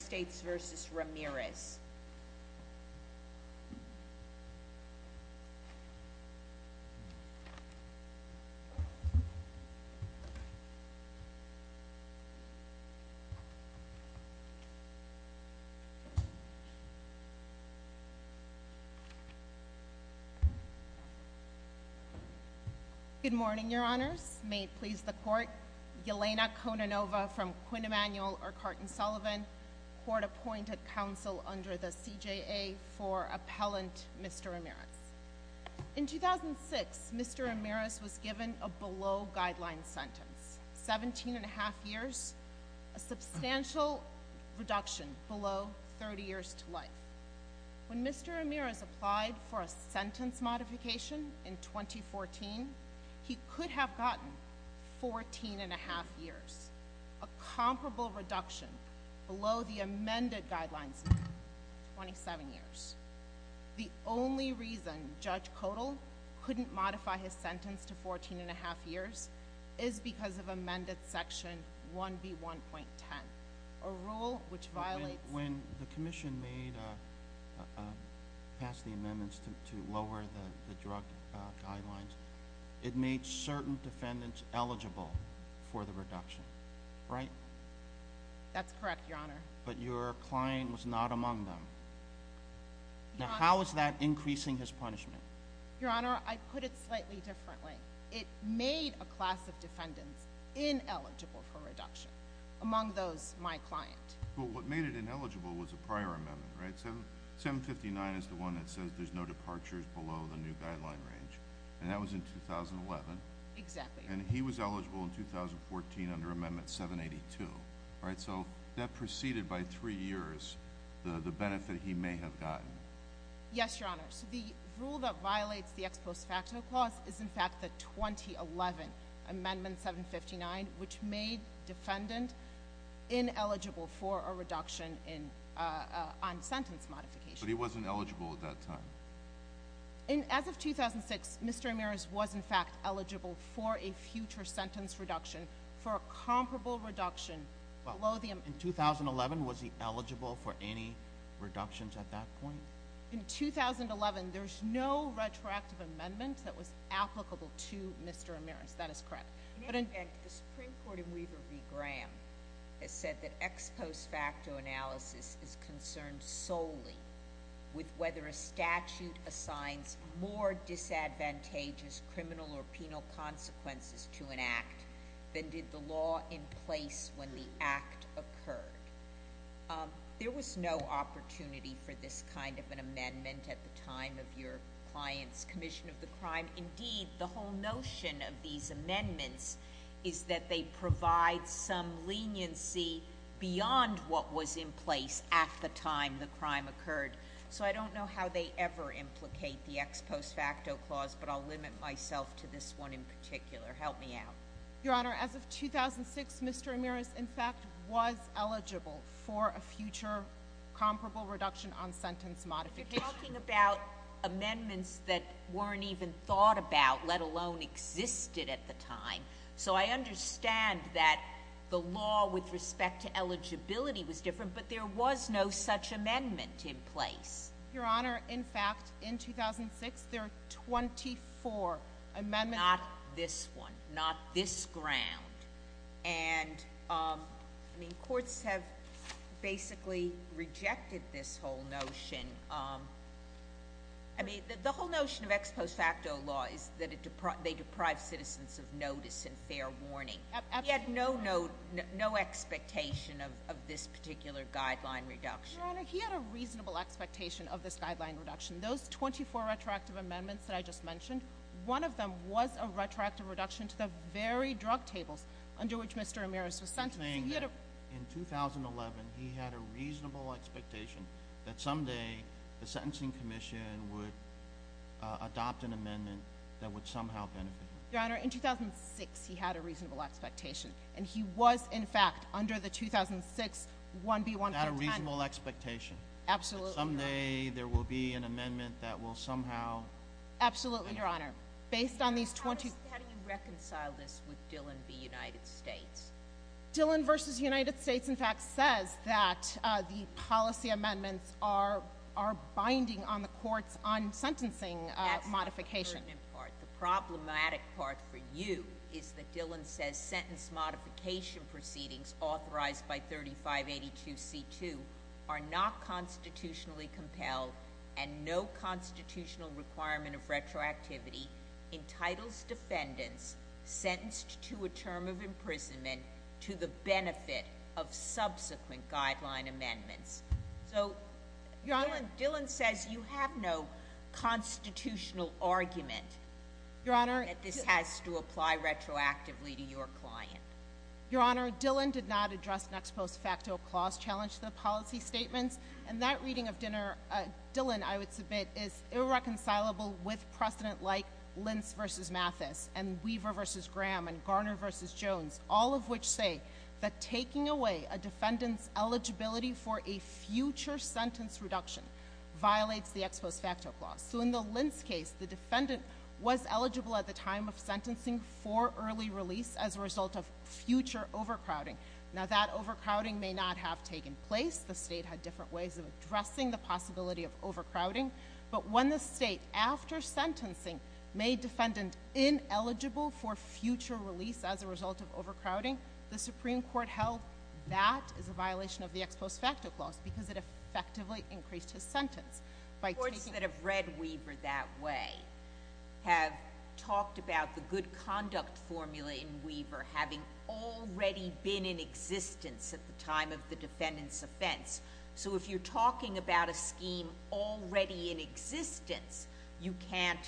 States v. Ramirez Good morning, your honors. May it please the court, Yelena Kononova from Quinn Emanuel or Carton Sullivan, court appointed counsel under the CJA for appellant Mr. Ramirez. In 2006, Mr. Ramirez was given a below guideline sentence, 17 and a half years, a substantial reduction below 30 years to life. When Mr. Ramirez applied for a sentence modification in 2014, he could have gotten 14 and a half years, a comparable reduction below the amended guidelines, 27 years. The only reason Judge Kodal couldn't modify his sentence to 14 and a half years is because of amended section 1B1.10, a rule which violates- uh, guidelines. It made certain defendants eligible for the reduction, right? That's correct, your honor. But your client was not among them. Now, how is that increasing his punishment? Your honor, I put it slightly differently. It made a class of defendants ineligible for reduction, among those my client. Well, what made it ineligible was a prior amendment, right? 759 is the one that says there's no departures below the new guideline range. And that was in 2011. Exactly. And he was eligible in 2014 under amendment 782, right? So that preceded by three years the benefit he may have gotten. Yes, your honor. So the rule that violates the ex post facto clause is in fact the 2011 amendment 759, which made defendant ineligible for a reduction in, uh, on sentence modification. But he wasn't eligible at that time. And as of 2006, Mr. Amiris was in fact eligible for a future sentence reduction, for a comparable reduction below the- In 2011, was he eligible for any reductions at that point? In 2011, there's no retroactive amendment that was applicable to Mr. Amiris. That is correct. The Supreme Court in Weaver v. Graham has said that ex post facto analysis is concerned solely with whether a statute assigns more disadvantageous criminal or penal consequences to an act than did the law in place when the act occurred. There was no opportunity for this kind of an amendment at the time of your client's commission of the crime. Indeed, the whole notion of these amendments is that they provide some leniency beyond what was in place at the time the crime occurred. So I don't know how they ever implicate the ex post facto clause, but I'll limit myself to this one in particular. Help me out. Your honor, as of 2006, Mr. Amiris in fact was eligible for a future comparable reduction on sentence modification. Talking about amendments that weren't even thought about, let alone existed at the time. So I understand that the law with respect to eligibility was different, but there was no such amendment in place. Your honor, in fact, in 2006, there are 24 amendments- Not this one. Not this ground. And I mean, courts have basically rejected this whole notion. I mean, the whole notion of ex post facto law is that they deprive citizens of notice and fair warning. He had no expectation of this particular guideline reduction. Your honor, he had a reasonable expectation of this guideline reduction. Those 24 retroactive amendments that I just mentioned, one of them was a retroactive reduction to the very drug tables under which Mr. Amiris was sentenced. In 2011, he had a reasonable expectation that someday the sentencing commission would adopt an amendment that would somehow benefit him. Your honor, in 2006, he had a reasonable expectation, and he was in fact, under the 2006 1B-1.10- Not a reasonable expectation. Absolutely not. Someday there will be an amendment that will somehow- Absolutely, your honor. Based on these 20- How do you reconcile this with Dillon v. United States? Dillon v. United States, in fact, says that the policy amendments are binding on the courts on sentencing modification. That's not the pertinent part. The problematic part for you is that Dillon says sentence modification proceedings authorized by 3582c2 are not constitutionally compelled and no constitutional requirement of retroactivity entitles defendants sentenced to a term of to the benefit of subsequent guideline amendments. Dillon says you have no constitutional argument that this has to apply retroactively to your client. Your honor, Dillon did not address next post facto clause challenge to the policy statements, and that reading of Dillon, I would submit, is irreconcilable with precedent like Lentz and Weaver v. Graham and Garner v. Jones, all of which say that taking away a defendant's eligibility for a future sentence reduction violates the ex post facto clause. So in the Lentz case, the defendant was eligible at the time of sentencing for early release as a result of future overcrowding. Now that overcrowding may not have taken place. The state had different ways of addressing the possibility of overcrowding, but when the state, after sentencing, made defendant ineligible for future release as a result of overcrowding, the Supreme Court held that is a violation of the ex post facto clause because it effectively increased his sentence. Courts that have read Weaver that way have talked about the good conduct formula in Weaver having already been in existence at the time of the defendant's offense. So if you're talking about a scheme already in existence, you can't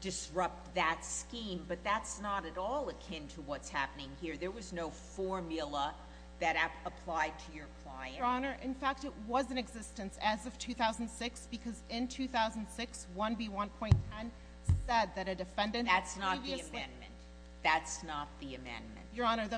disrupt that scheme, but that's not at all akin to what's happening here. There was no formula that applied to your client. Your Honor, in fact, it was in existence as of 2006 because in 2006, 1B1.10 said that a defendant had previously— That's not the amendment. Your Honor,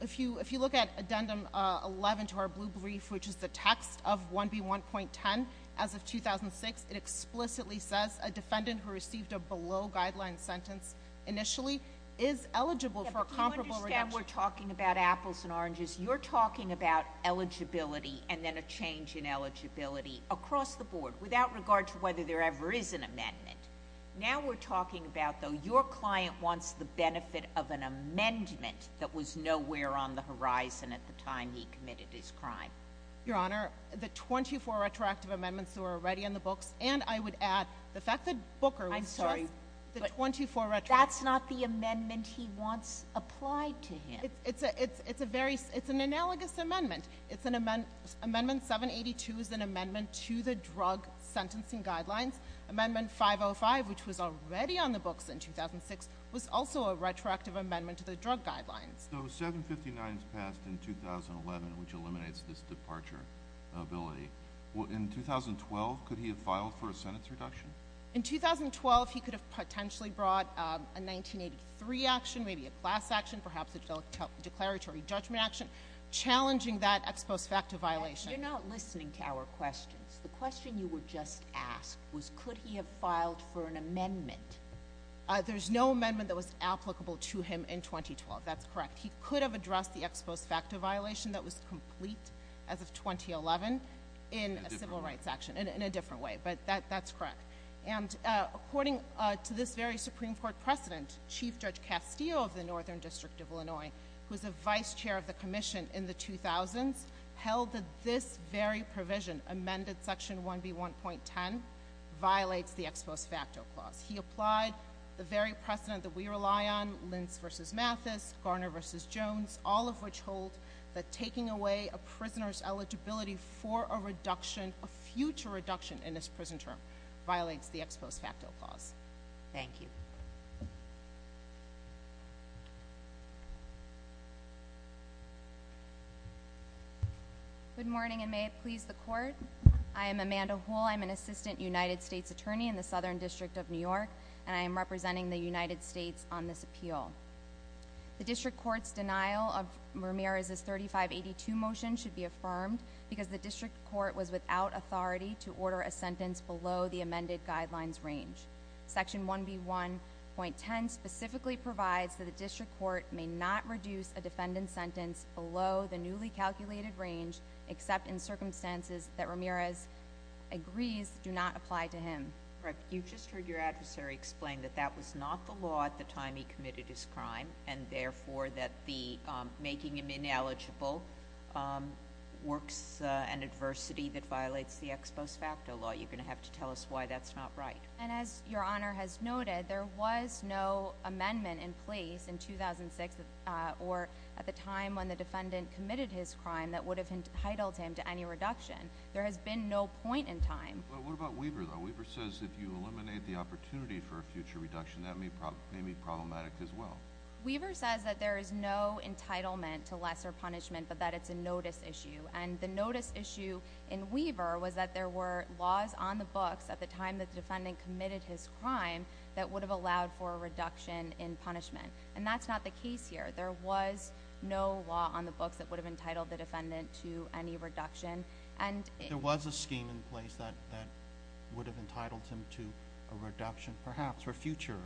if you look at addendum 11 to our blue brief, which is the text of 1B1.10, as of 2006, it explicitly says a defendant who received a below-guideline sentence initially is eligible for a comparable reduction— Yeah, but you understand we're talking about apples and oranges. You're talking about eligibility and then a change in eligibility across the board, without regard to whether there ever is an amendment. Now we're talking about, though, your client wants the benefit of an amendment that was nowhere on the horizon at the time he committed his crime. Your Honor, the 24 retroactive amendments that were already in the books, and I would add the fact that Booker— I'm sorry, but that's not the amendment he wants applied to him. It's an analogous amendment. Amendment 782 is an amendment to the drug sentencing guidelines. Amendment 505, which was already on the books in 2006, was also a retroactive amendment to the drug guidelines. So 759 is passed in 2011, which eliminates this departure ability. Well, in 2012, could he have filed for a sentence reduction? In 2012, he could have potentially brought a 1983 action, maybe a class action, perhaps a declaratory judgment action, challenging that ex post facto violation. You're not listening to our questions. The question you were just asked was, could he have filed for an amendment? There's no amendment that was applicable to him in 2012. That's correct. He could have addressed the ex post facto violation that was complete as of 2011 in a civil rights action, in a different way. But that's correct. And according to this very Supreme Court precedent, Chief Judge Castillo of the Northern District of Illinois, who was a vice chair of the commission in the 2000s, held that this very provision, amended section 1B1.10, violates the ex post facto clause. He applied the very precedent that we rely on, Lentz versus Mathis, Garner versus Jones, all of which hold that taking away a prisoner's eligibility for a reduction, a future reduction in this prison term, violates the ex post facto clause. Thank you. Good morning, and may it please the court. I am Amanda Hull. I'm an assistant United States attorney in the Southern District of New York, and I am representing the United States on this appeal. The district court's denial of Ramirez's 3582 motion should be affirmed because the district court was without authority to order a sentence below the amended guidelines range. Section 1B1.10 specifically provides that the district court may not reduce a defendant's sentence below the newly calculated range, except in circumstances that Ramirez agrees do not apply to him. Correct. You just heard your adversary explain that that was not the law at the time he committed his crime, and therefore that the making him ineligible works an adversity that violates the ex post facto law. You're going to have to tell us why that's not right. And as Your Honor has noted, there was no amendment in place in 2006 or at the time when the defendant committed his crime that would have entitled him to any reduction. There has been no point in time. What about Weaver, though? Weaver says if you eliminate the opportunity for a future reduction, that may be problematic as well. Weaver says that there is no entitlement to lesser punishment, but that it's a notice issue. And the notice issue in Weaver was that there were laws on the books at the time that the defendant committed his crime that would have allowed for a reduction in punishment. And that's not the case here. There was no law on the books that would have entitled the defendant to any reduction. There was a scheme in place that would have entitled him to a reduction, perhaps, for future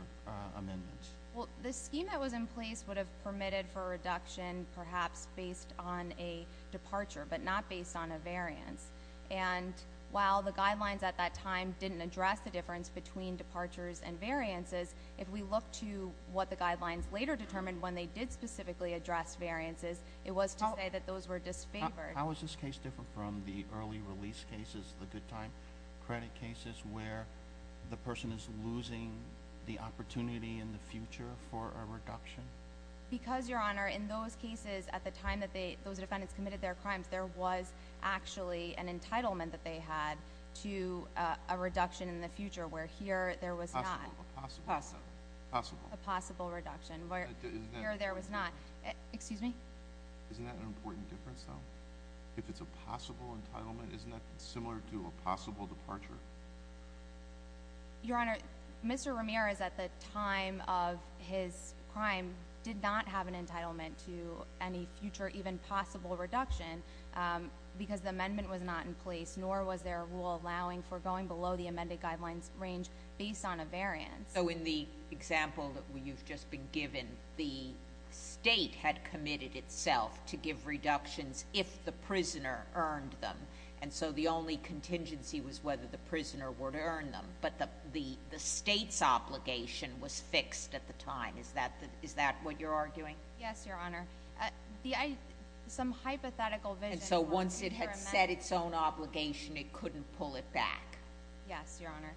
amendments. Well, the scheme that was in place would have permitted for a reduction, perhaps based on a departure, but not based on a variance. And while the guidelines at that time didn't address the difference between departures and variances, if we look to what the guidelines later determined when they did specifically address variances, it was to say that those were disfavored. How is this case different from the early release cases, the good time credit cases where the person is losing the opportunity in the future for a reduction? Because, Your Honor, in those cases at the time that those defendants committed their crimes, they had an entitlement that they had to a reduction in the future, where here there was not a possible reduction, where here there was not. Excuse me? Isn't that an important difference, though? If it's a possible entitlement, isn't that similar to a possible departure? Your Honor, Mr. Ramirez, at the time of his crime, did not have an entitlement to any even possible reduction because the amendment was not in place, nor was there a rule allowing for going below the amended guidelines range based on a variance. So in the example that you've just been given, the state had committed itself to give reductions if the prisoner earned them, and so the only contingency was whether the prisoner would earn them. But the state's obligation was fixed at the time. Is that what you're arguing? Yes, Your Honor. The — some hypothetical vision — So once it had set its own obligation, it couldn't pull it back? Yes, Your Honor.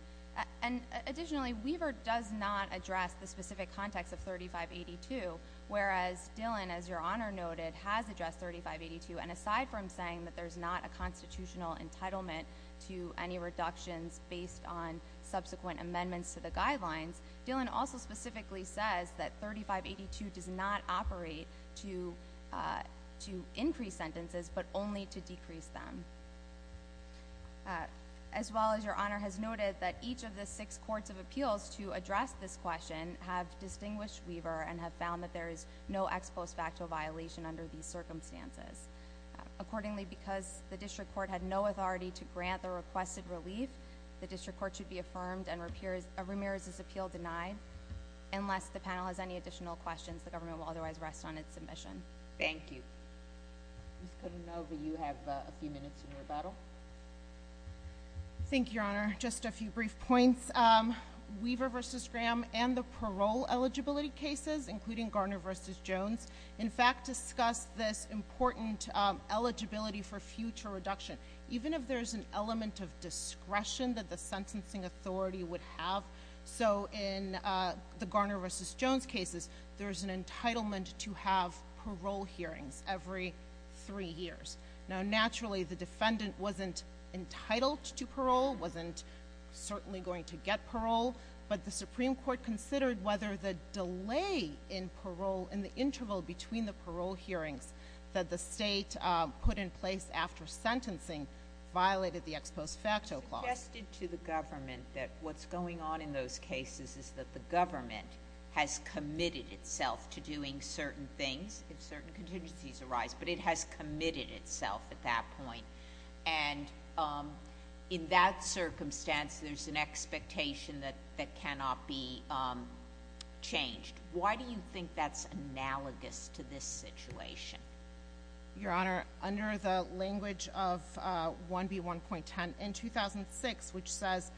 And additionally, Weaver does not address the specific context of 3582, whereas Dillon, as Your Honor noted, has addressed 3582. And aside from saying that there's not a constitutional entitlement to any reductions based on subsequent amendments to the guidelines, Dillon also specifically says that 3582 does not operate to increase sentences, but only to decrease them. As well as Your Honor has noted that each of the six courts of appeals to address this question have distinguished Weaver and have found that there is no ex post facto violation under these circumstances. Accordingly, because the district court had no authority to grant the requested relief, the district court should be affirmed and Ramirez's appeal denied, unless the panel has any additional questions. The government will otherwise rest on its submission. Thank you. Ms. Codenova, you have a few minutes in your battle. Thank you, Your Honor. Just a few brief points. Weaver v. Graham and the parole eligibility cases, including Garner v. Jones, in fact, discuss this important eligibility for future reduction. Even if there's an element of discretion that the sentencing authority would have. So, in the Garner v. Jones cases, there's an entitlement to have parole hearings every three years. Now, naturally, the defendant wasn't entitled to parole, wasn't certainly going to get parole, but the Supreme Court considered whether the delay in parole, in the interval between the parole hearings that the state put in place after sentencing violated the ex post facto clause. It's suggested to the government that what's going on in those cases is that the government has committed itself to doing certain things if certain contingencies arise, but it has committed itself at that point. And in that circumstance, there's an expectation that that cannot be changed. Why do you think that's analogous to this situation? Your Honor, under the language of 1B1.10 in 2006, which says,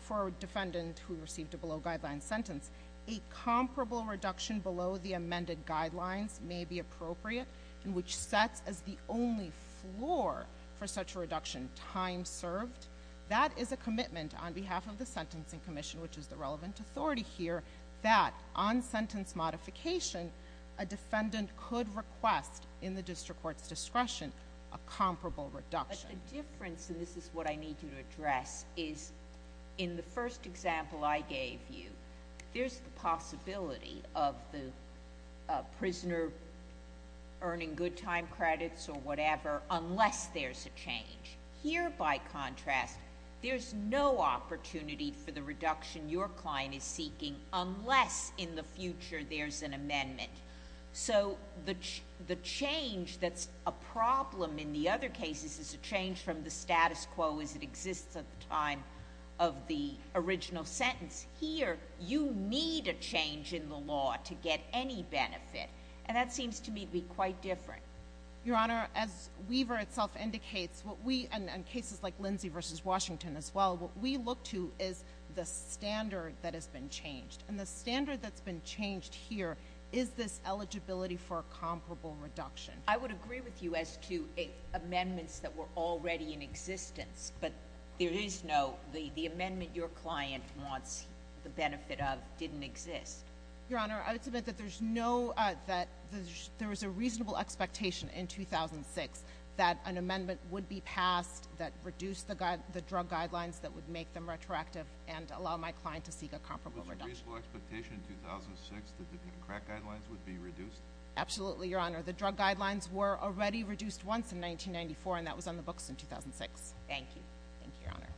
for a defendant who received a below guideline sentence, a comparable reduction below the amended guidelines may be appropriate, and which sets as the only floor for such a reduction time served. That is a commitment on behalf of the Sentencing Commission, which is the relevant authority here, that on sentence modification, a defendant could request in the district court's discretion a comparable reduction. But the difference, and this is what I need to address, is in the first example I gave you, there's the possibility of the prisoner earning good time credits or whatever unless there's a change. Here, by contrast, there's no opportunity for the reduction your client is seeking unless in the future there's an amendment. So the change that's a problem in the other cases is a change from the status quo as it exists at the time of the original sentence. Here, you need a change in the law to get any benefit. And that seems to me to be quite different. Your Honor, as Weaver itself indicates, and cases like Lindsay v. Washington as well, what we look to is the standard that has been changed. And the standard that's been changed here is this eligibility for a comparable reduction. I would agree with you as to amendments that were already in existence. But the amendment your client wants the benefit of didn't exist. Your Honor, I would submit that there was a reasonable expectation in 2006 that an amendment would be passed that reduced the drug guidelines that would make them retroactive and allow my client to seek a comparable reduction. There was a reasonable expectation in 2006 that the crack guidelines would be reduced? Absolutely, Your Honor. The drug guidelines were already reduced once in 1994, and that was on the books in 2006. Thank you. Thank you, Your Honor.